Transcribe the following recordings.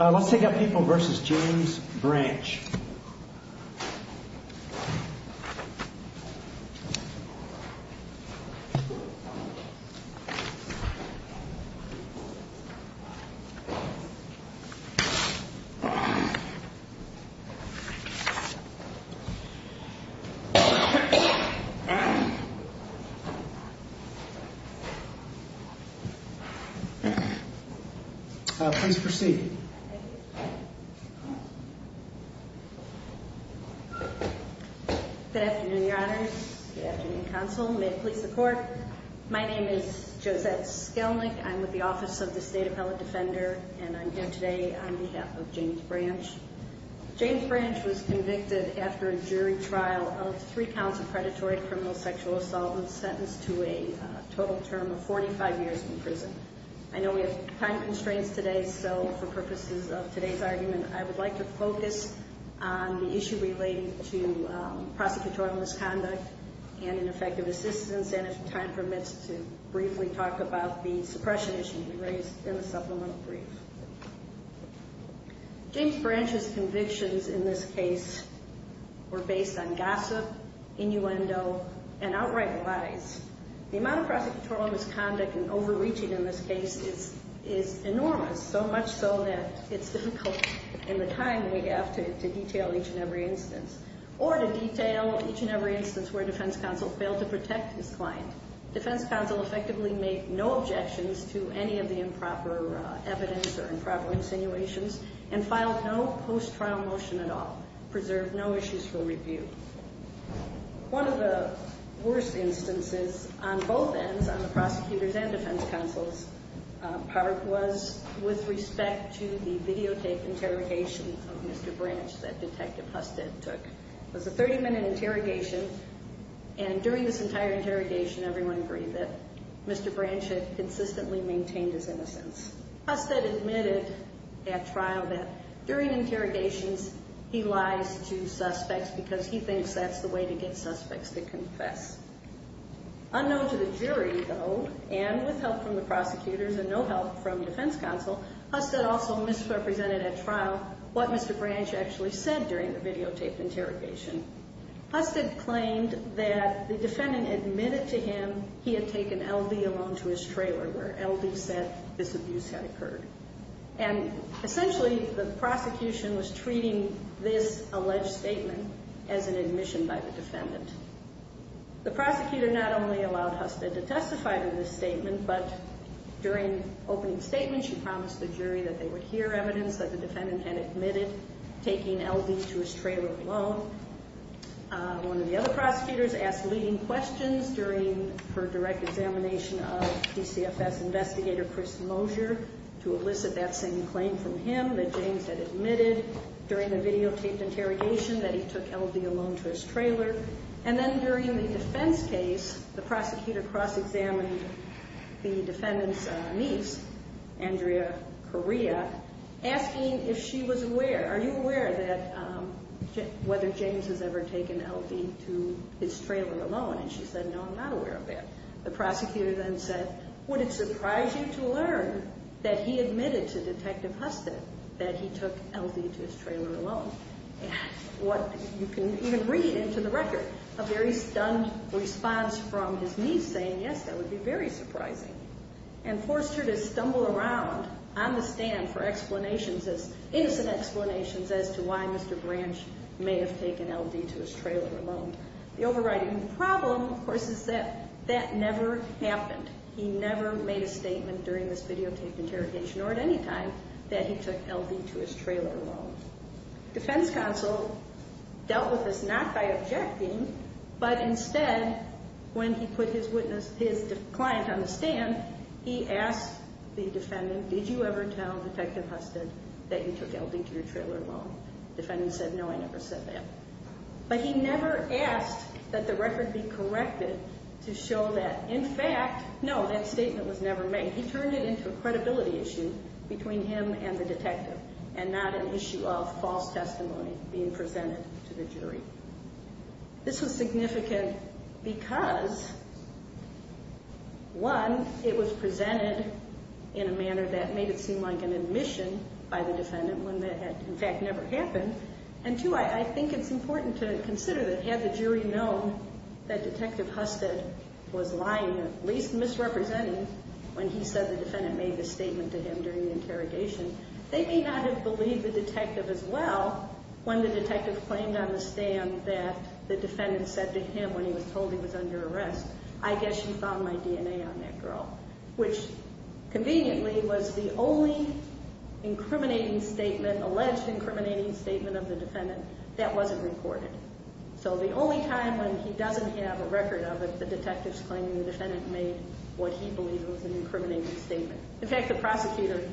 Let's take up People v. James Branch Josette Skelnick, Office of the State Appellate Defender I'm here today on behalf of James Branch. James Branch was convicted after a jury trial of three counts of predatory criminal sexual assault and sentenced to a total term of 45 years in prison. I know we have time constraints today, so for purposes of today's argument, I would like to focus on the issue relating to prosecutorial misconduct and ineffective assistance, and if time permits, to briefly talk about the suppression issue you raised in the supplemental brief. James Branch's convictions in this case were based on gossip, innuendo, and outright lies. The amount of prosecutorial misconduct and overreaching in this case is enormous, so much so that it's difficult in the time we have to detail each and every instance. Or to detail each and every instance where defense counsel failed to protect his client. Defense counsel effectively made no objections to any of the improper evidence or improper insinuations and filed no post-trial motion at all, preserved no issues for review. One of the worst instances on both ends, on the prosecutor's and defense counsel's part, was with respect to the videotape interrogation of Mr. Branch that Detective Husted took. It was a 30-minute interrogation, and during this entire interrogation, everyone agreed that Mr. Branch had consistently maintained his innocence. Husted admitted at trial that during interrogations, he lies to suspects because he thinks that's the way to get suspects to confess. Unknown to the jury, though, and with help from the prosecutors and no help from defense counsel, Husted also misrepresented at trial what Mr. Branch actually said during the videotape interrogation. Husted claimed that the defendant admitted to him he had taken L.D. alone to his trailer, where L.D. said this abuse had occurred. And essentially, the prosecution was treating this alleged statement as an admission by the defendant. The prosecutor not only allowed Husted to testify to this statement, but during opening statements, she promised the jury that they would hear evidence that the defendant had admitted taking L.D. to his trailer alone. And then during the defense case, the prosecutor cross-examined the defendant's niece, Andrea Correa, asking if she was aware, are you aware that, whether James has ever taken L.D. to his trailer alone? And she said, no, I'm not aware of that. The prosecutor then said, would it surprise you to learn that he admitted to Detective Husted that he took L.D. to his trailer alone? And what you can even read into the record, a very stunned response from his niece saying, yes, that would be very surprising, and forced her to stumble around on the stand for explanations, innocent explanations as to why Mr. Branch may have taken L.D. to his trailer alone. The overriding problem, of course, is that that never happened. He never made a statement during this videotaped interrogation or at any time that he took L.D. to his trailer alone. He asked that the record be corrected to show that, in fact, no, that statement was never made. He turned it into a credibility issue between him and the detective, and not an issue of false testimony being presented to the jury. This was significant because, one, it was presented in a manner that made it seem like an admission by the defendant when that had, in fact, never happened. And two, I think it's important to consider that had the jury known that Detective Husted was lying or at least misrepresenting when he said the defendant made this statement to him during the interrogation, they may not have believed the detective as well when the detective claimed on the stand that he took L.D. to his trailer alone. And that the defendant said to him when he was told he was under arrest, I guess you found my DNA on that girl, which conveniently was the only incriminating statement, alleged incriminating statement of the defendant that wasn't recorded. So the only time when he doesn't have a record of it, the detective's claiming the defendant made what he believed was an incriminating statement. In fact, the prosecutor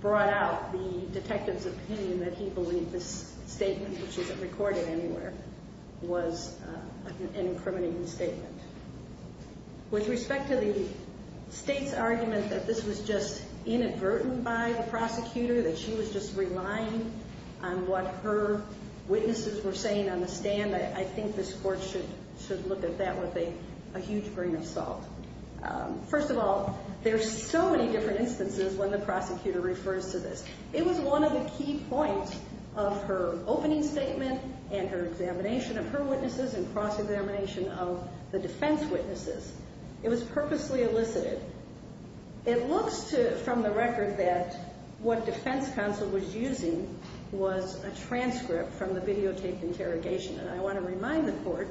brought out the detective's opinion that he believed this statement, which isn't recorded anywhere, was an incriminating statement. With respect to the state's argument that this was just inadvertent by the prosecutor, that she was just relying on what her witnesses were saying on the stand, I think this court should look at that with a huge grain of salt. First of all, there are so many different instances when the prosecutor refers to this. It was one of the key points of her opening statement and her examination of her witnesses and cross-examination of the defense witnesses. It was purposely elicited. It looks from the record that what defense counsel was using was a transcript from the videotape interrogation. And I want to remind the court,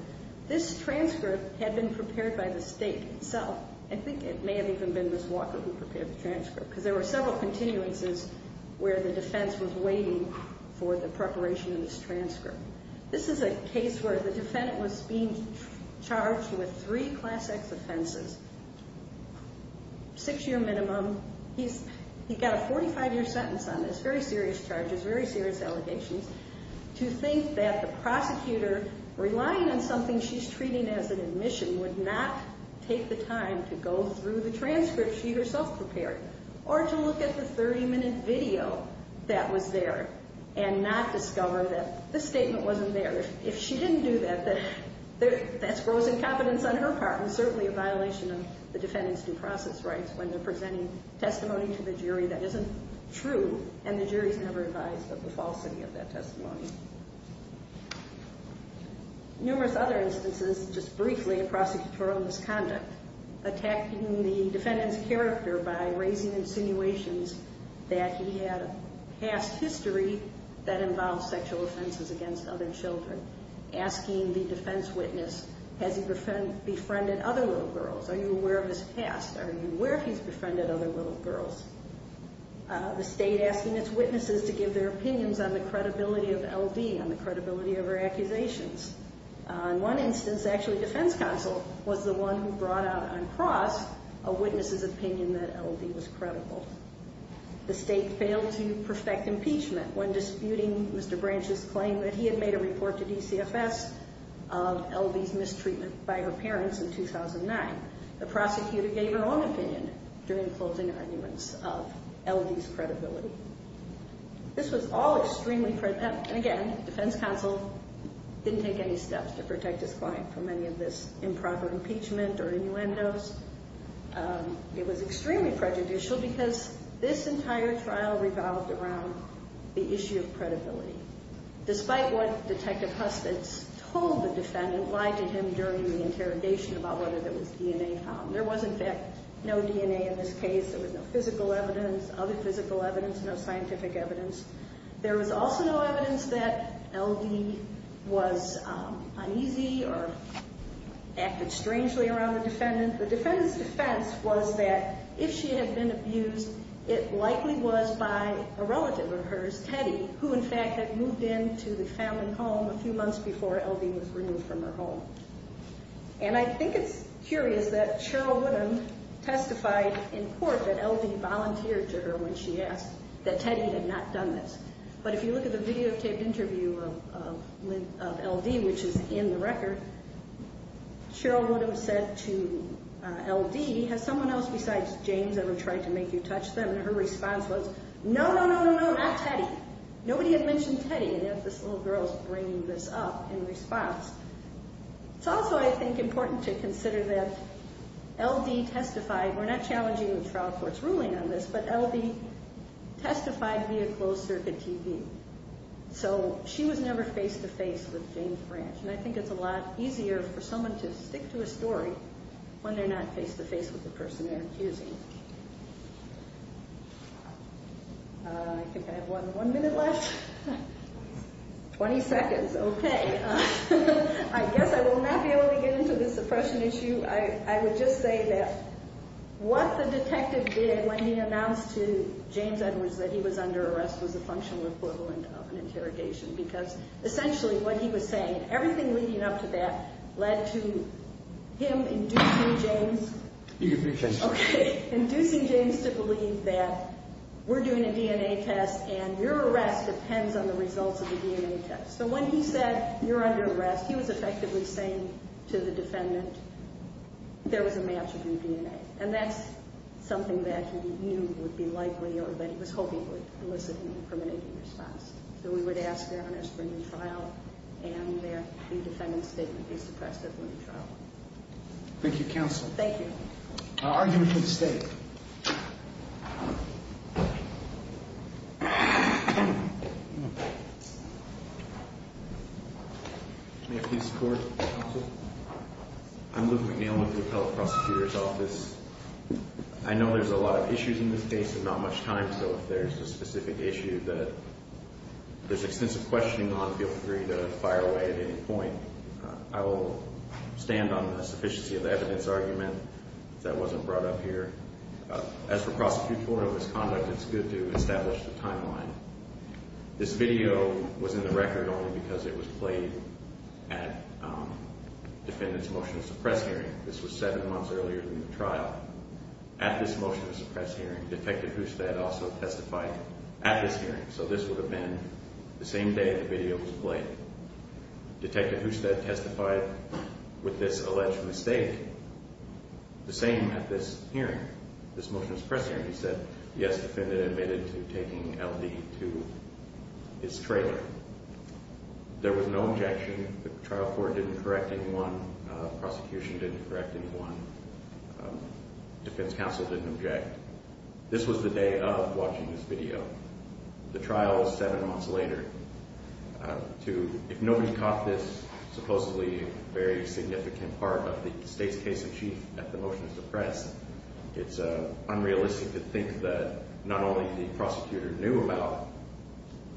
this transcript had been prepared by the state itself. I think it may have even been Ms. Walker who prepared the transcript, because there were several continuances where the defense was waiting for the preparation of this transcript. This is a case where the defendant was being charged with three Class X offenses, six-year minimum. He's got a 45-year sentence on this, very serious charges, very serious allegations. To think that the prosecutor, relying on something she's treating as an admission, would not take the time to go through the transcript she herself prepared or to look at the 30-minute video that was there and not discover that this statement wasn't there. If she didn't do that, that's gross incompetence on her part and certainly a violation of the defendant's due process rights when they're presenting testimony to the jury that isn't true and the jury's never advised of the falsity of that testimony. Numerous other instances, just briefly, of prosecutorial misconduct. Attacking the defendant's character by raising insinuations that he had a past history that involves sexual offenses against other children. Asking the defense witness, has he befriended other little girls? Are you aware of his past? Are you aware if he's befriended other little girls? The state asking its witnesses to give their opinions on the credibility of L.D., on the credibility of her accusations. In one instance, actually, defense counsel was the one who brought out on cross a witness's opinion that L.D. was credible. The state failed to perfect impeachment when disputing Mr. Branch's claim that he had made a report to DCFS of L.D.'s mistreatment by her parents in 2009. The prosecutor gave her own opinion during closing arguments of L.D.'s credibility. This was all extremely, and again, defense counsel didn't take any steps to protect his client from any of this improper impeachment or innuendos. It was extremely prejudicial because this entire trial revolved around the issue of credibility. Despite what Detective Husted told the defendant, lied to him during the interrogation about whether there was DNA found. There was, in fact, no DNA in this case. There was no physical evidence, other physical evidence, no scientific evidence. There was also no evidence that L.D. was uneasy or acted strangely around the defendant. The defendant's defense was that if she had been abused, it likely was by a relative of hers, Teddy, who, in fact, had moved into the family home a few months before L.D. was removed from her home. And I think it's curious that Cheryl Woodham testified in court that L.D. volunteered to her when she asked, that Teddy had not done this. But if you look at the videotaped interview of L.D., which is in the record, Cheryl Woodham said to L.D., has someone else besides James ever tried to make you touch them? And her response was, no, no, no, no, no, not Teddy. Nobody had mentioned Teddy, and yet this little girl is bringing this up in response. It's also, I think, important to consider that L.D. testified, we're not challenging the trial court's ruling on this, but L.D. testified via closed-circuit TV. So she was never face-to-face with James Branch, and I think it's a lot easier for someone to stick to a story when they're not face-to-face with the person they're accusing. I think I have one minute left. Twenty seconds. Okay. I guess I will not be able to get into the suppression issue. I would just say that what the detective did when he announced to James Edwards that he was under arrest was a functional equivalent of an interrogation, because essentially what he was saying and everything leading up to that led to him inducing James. Okay. Inducing James to believe that we're doing a DNA test and your arrest depends on the results of the DNA test. So when he said you're under arrest, he was effectively saying to the defendant there was a match of your DNA, and that's something that he knew would be likely or that he was hoping would elicit an incriminating response. So we would ask their honors for a new trial, and the defendant's statement be suppressed at the new trial. Thank you, Counsel. Thank you. I'll argue for the State. May I please report, Counsel? I'm Luke McNeil with the Appellate Prosecutor's Office. I know there's a lot of issues in this case and not much time, so if there's a specific issue that there's extensive questioning on, feel free to fire away at any point. I will stand on the sufficiency of evidence argument that wasn't brought up here. As for prosecutorial misconduct, it's good to establish the timeline. This video was in the record only because it was played at the defendant's motion to suppress hearing. This was seven months earlier than the trial. At this motion to suppress hearing, Detective Husted also testified at this hearing, so this would have been the same day the video was played. Detective Husted testified with this alleged mistake the same at this hearing, this motion to suppress hearing. He said, yes, the defendant admitted to taking L.D. to his trailer. There was no objection. The trial court didn't correct anyone. The prosecution didn't correct anyone. The defense counsel didn't object. This was the day of watching this video. The trial was seven months later. If nobody caught this supposedly very significant part of the state's case in chief at the motion to suppress, it's unrealistic to think that not only the prosecutor knew about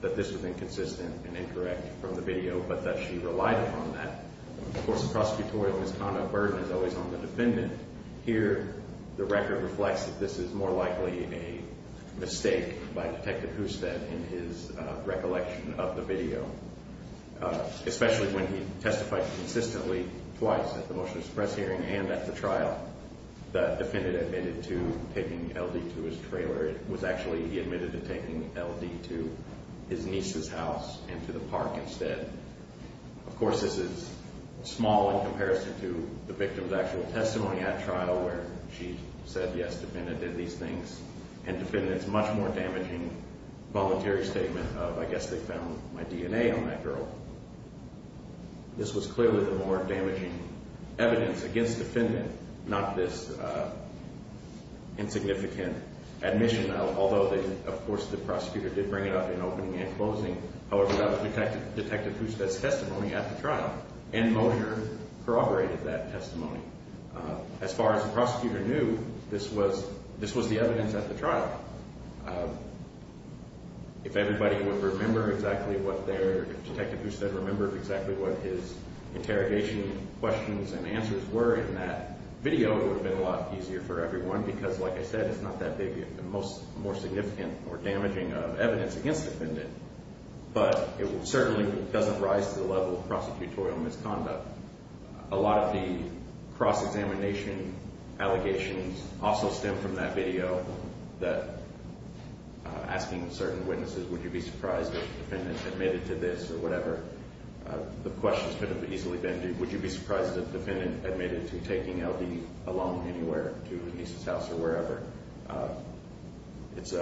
that this was inconsistent and incorrect from the video, but that she relied upon that. Of course, the prosecutorial misconduct burden is always on the defendant. Here, the record reflects that this is more likely a mistake by Detective Husted in his recollection of the video, especially when he testified consistently twice at the motion to suppress hearing and at the trial that the defendant admitted to taking L.D. to his trailer. This is small in comparison to the victim's actual testimony at trial where she said, yes, the defendant did these things, and the defendant's much more damaging voluntary statement of, I guess they found my DNA on that girl. This was clearly the more damaging evidence against the defendant, not this insignificant admission, although, of course, the prosecutor did bring it up in opening and closing. However, that was Detective Husted's testimony at the trial, and Moser corroborated that testimony. As far as the prosecutor knew, this was the evidence at the trial. If everybody would remember exactly what their, if Detective Husted remembered exactly what his interrogation questions and answers were in that video, it would have been a lot easier for everyone because, like I said, it's not that big a more significant or damaging evidence against the defendant. But it certainly doesn't rise to the level of prosecutorial misconduct. A lot of the cross-examination allegations also stem from that video that, asking certain witnesses, would you be surprised if the defendant admitted to this or whatever. The questions could have easily been, would you be surprised if the defendant admitted to taking LD along anywhere to his niece's house or wherever. It's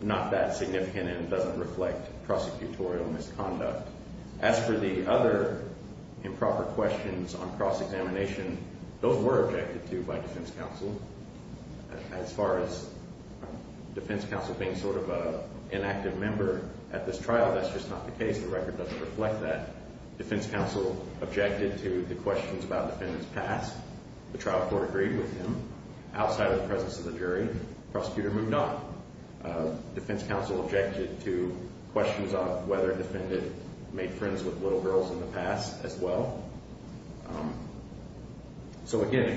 not that significant and doesn't reflect prosecutorial misconduct. As for the other improper questions on cross-examination, those were objected to by defense counsel. As far as defense counsel being sort of an inactive member at this trial, that's just not the case. The record doesn't reflect that. Defense counsel objected to the questions about the defendant's past. The trial court agreed with him. Outside of the presence of the jury, the prosecutor moved on. Defense counsel objected to questions on whether the defendant made friends with little girls in the past as well. So again,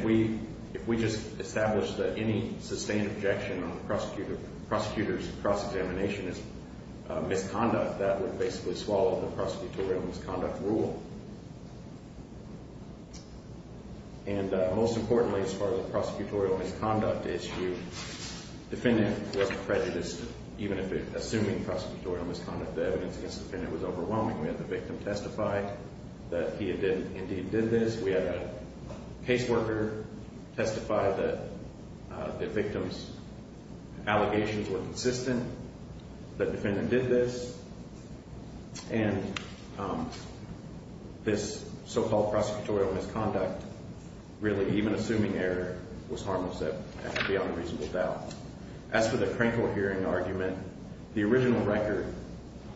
if we just established that any sustained objection on the prosecutor's cross-examination is misconduct, that would basically swallow the prosecutorial misconduct rule. And most importantly, as far as the prosecutorial misconduct issue, the defendant was prejudiced. Even assuming prosecutorial misconduct, the evidence against the defendant was overwhelming. We had the victim testify that he indeed did this. We had a caseworker testify that the victim's allegations were consistent, that the defendant did this. And this so-called prosecutorial misconduct, really even assuming error, was harmless and beyond reasonable doubt. As for the Krenkel hearing argument, the original record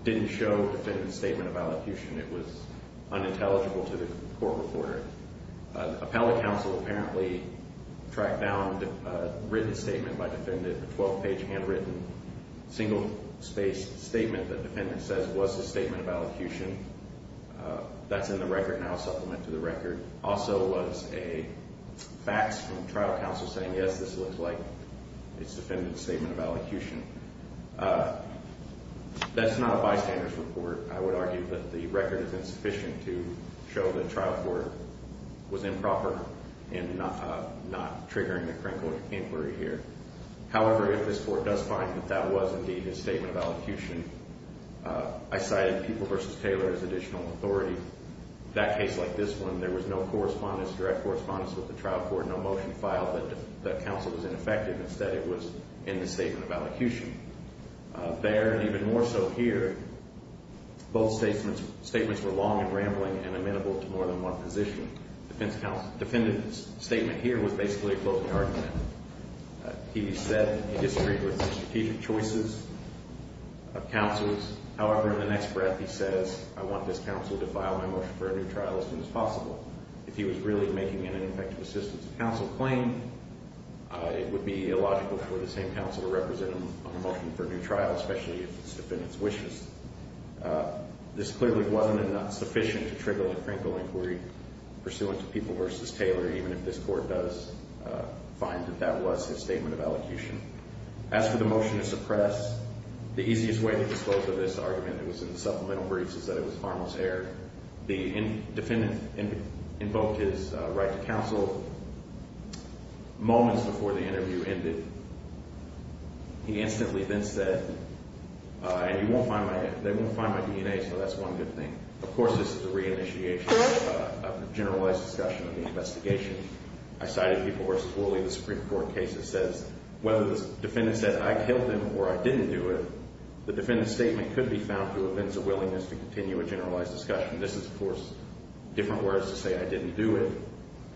didn't show the defendant's statement of allocution. It was unintelligible to the court reporter. The appellate counsel apparently tracked down a written statement by the defendant, a 12-page handwritten, single-spaced statement that the defendant says was his statement of allocution. That's in the record now, a supplement to the record. Also was a fax from trial counsel saying, yes, this looks like his defendant's statement of allocution. That's not a bystander's report, I would argue, but the record is insufficient to show that trial court was improper in not triggering the Krenkel inquiry here. However, if this court does find that that was indeed his statement of allocution, I cited People v. Taylor as additional authority. In that case like this one, there was no correspondence, direct correspondence with the trial court, no motion filed that the counsel was ineffective. Instead, it was in the statement of allocution. There, and even more so here, both statements were long and rambling and amenable to more than one position. The defendant's statement here was basically a closing argument. He said he disagreed with the strategic choices of counsels. However, in the next breath, he says, I want this counsel to file my motion for a new trial as soon as possible. If he was really making an ineffective assistance of counsel claim, it would be illogical for the same counsel to represent him on a motion for a new trial, especially if it's the defendant's wishes. This clearly wasn't enough sufficient to trigger the Krenkel inquiry pursuant to People v. Taylor, even if this court does find that that was his statement of allocution. As for the motion to suppress, the easiest way to disclose of this argument that was in the supplemental briefs is that it was harmless error. The defendant invoked his right to counsel moments before the interview ended. He instantly then said, and you won't find my – they won't find my DNA, so that's one good thing. Of course, this is a reinitiation of a generalized discussion of the investigation. I cited People v. Woolley, the Supreme Court case that says whether the defendant said, I killed him or I didn't do it, the defendant's statement could be found through events of willingness to continue a generalized discussion. This is, of course, different words to say I didn't do it.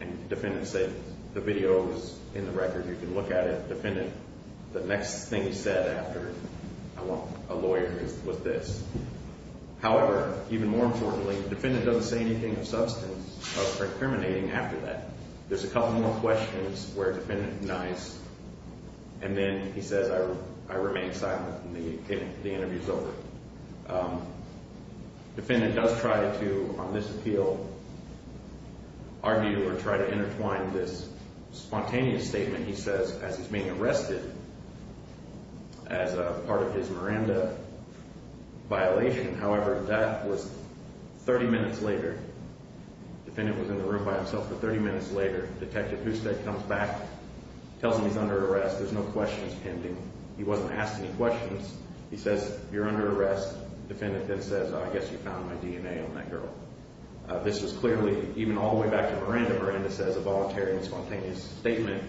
And defendants say, the video is in the record. You can look at it. Defendant, the next thing he said after I want a lawyer was this. However, even more importantly, the defendant doesn't say anything of substance or discriminating after that. There's a couple more questions where the defendant denies, and then he says, I remain silent, and the interview is over. Defendant does try to, on this appeal, argue or try to intertwine this spontaneous statement he says as he's being arrested as part of his Miranda violation. However, that was 30 minutes later. Defendant was in the room by himself, but 30 minutes later, Detective Husted comes back, tells him he's under arrest. There's no questions pending. He wasn't asked any questions. He says, you're under arrest. Defendant then says, I guess you found my DNA on that girl. This was clearly, even all the way back to Miranda, Miranda says a voluntary and spontaneous statement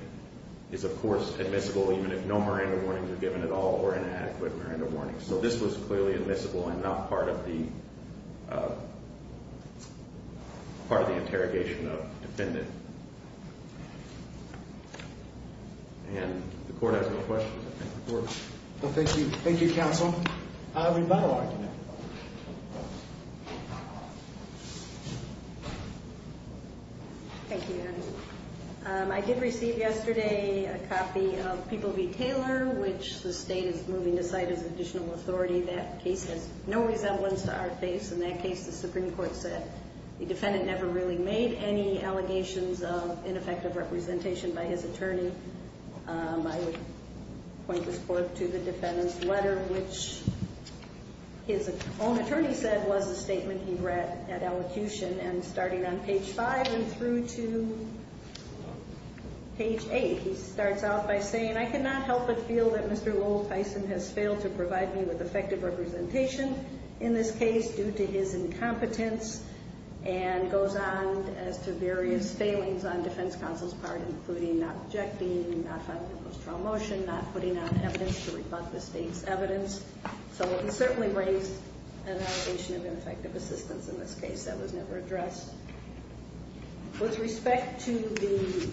is, of course, admissible even if no Miranda warnings are given at all or inadequate Miranda warnings. So this was clearly admissible and not part of the interrogation of the defendant. And the court has no questions. Thank you. Thank you, Counsel. Rebuttal argument. Thank you, Your Honor. I did receive yesterday a copy of People v. Taylor, which the state is moving to cite as additional authority. That case has no resemblance to our case. In that case, the Supreme Court said the defendant never really made any allegations of ineffective representation by his attorney. I would point this court to the defendant's letter, which his own attorney said was a statement he read at elocution. And starting on page five and through to page eight, he starts out by saying, I cannot help but feel that Mr. Lowell Tyson has failed to provide me with effective representation in this case due to his incompetence. And goes on as to various failings on defense counsel's part, including not objecting, not filing a post-trial motion, not putting out evidence to rebut the state's evidence. So he certainly raised an allegation of ineffective assistance in this case that was never addressed. With respect to the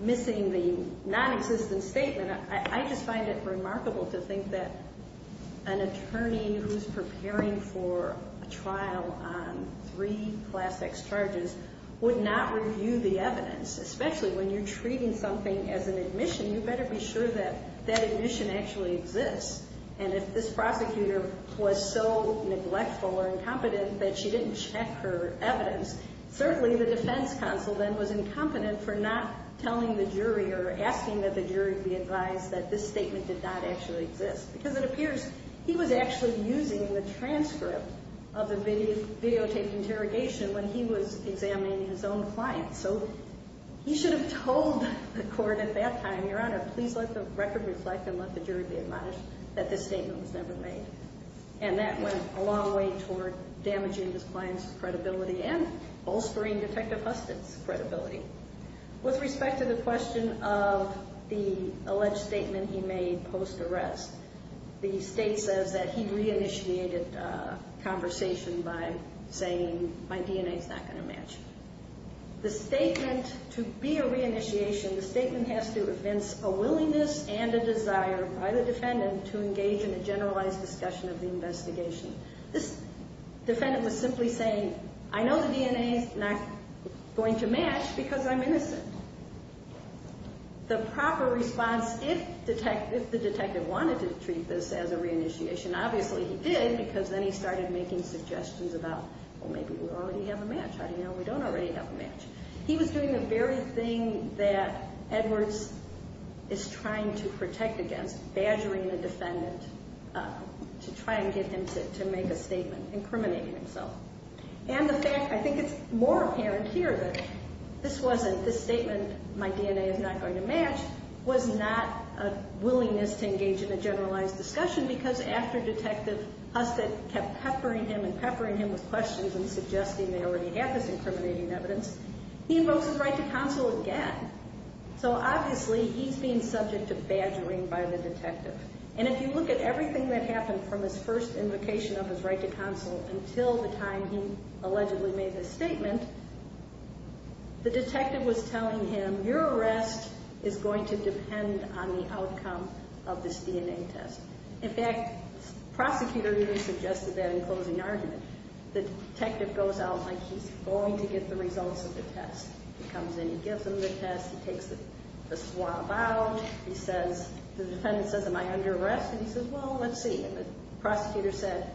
missing the nonexistent statement, I just find it remarkable to think that an attorney who's preparing for a trial on three Class X charges would not review the evidence. Especially when you're treating something as an admission, you better be sure that that admission actually exists. And if this prosecutor was so neglectful or incompetent that she didn't check her evidence, certainly the defense counsel then was incompetent for not telling the jury or asking that the jury be advised that this statement did not actually exist. Because it appears he was actually using the transcript of the videotaped interrogation when he was examining his own client. So he should have told the court at that time, Your Honor, please let the record reflect and let the jury be admonished that this statement was never made. And that went a long way toward damaging his client's credibility and bolstering Detective Husted's credibility. With respect to the question of the alleged statement he made post-arrest, the state says that he reinitiated conversation by saying, My DNA's not going to match. The statement, to be a reinitiation, the statement has to convince a willingness and a desire by the defendant to engage in a generalized discussion of the investigation. This defendant was simply saying, I know the DNA's not going to match because I'm innocent. The proper response if the detective wanted to treat this as a reinitiation, obviously he did because then he started making suggestions about, well, maybe we already have a match. How do you know we don't already have a match? He was doing the very thing that Edwards is trying to protect against, badgering the defendant to try and get him to make a statement, incriminating himself. And the fact, I think it's more apparent here, that this statement, My DNA is not going to match, was not a willingness to engage in a generalized discussion because after Detective Husted kept peppering him and peppering him with questions and suggesting they already had this incriminating evidence, he invokes his right to counsel again. So obviously he's being subject to badgering by the detective. And if you look at everything that happened from his first invocation of his right to counsel until the time he allegedly made this statement, the detective was telling him, your arrest is going to depend on the outcome of this DNA test. In fact, the prosecutor even suggested that in closing argument. The detective goes out like he's going to get the results of the test. He comes in, he gives him the test, he takes the swab out. He says, the defendant says, am I under arrest? And he says, well, let's see. The prosecutor said,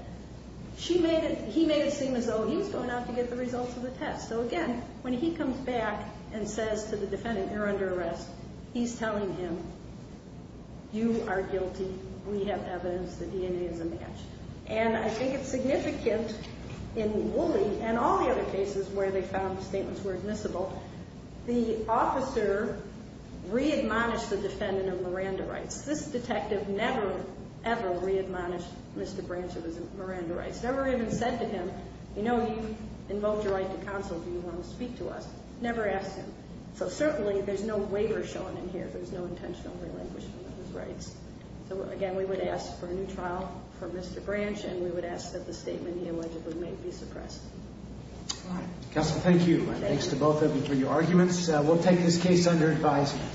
he made it seem as though he was going out to get the results of the test. So again, when he comes back and says to the defendant, you're under arrest, he's telling him, you are guilty. We have evidence. The DNA is a match. And I think it's significant in Wooley and all the other cases where they found statements were admissible. The officer re-admonished the defendant of Miranda rights. This detective never, ever re-admonished Mr. Branch of his Miranda rights. Never even said to him, you know, you invoked your right to counsel, do you want to speak to us? Never asked him. So certainly, there's no waiver shown in here. There's no intentional relinquishment of his rights. So again, we would ask for a new trial for Mr. Branch, and we would ask that the statement he allegedly made be suppressed. Counsel, thank you. Thanks to both of you for your arguments. We'll take this case under advisement.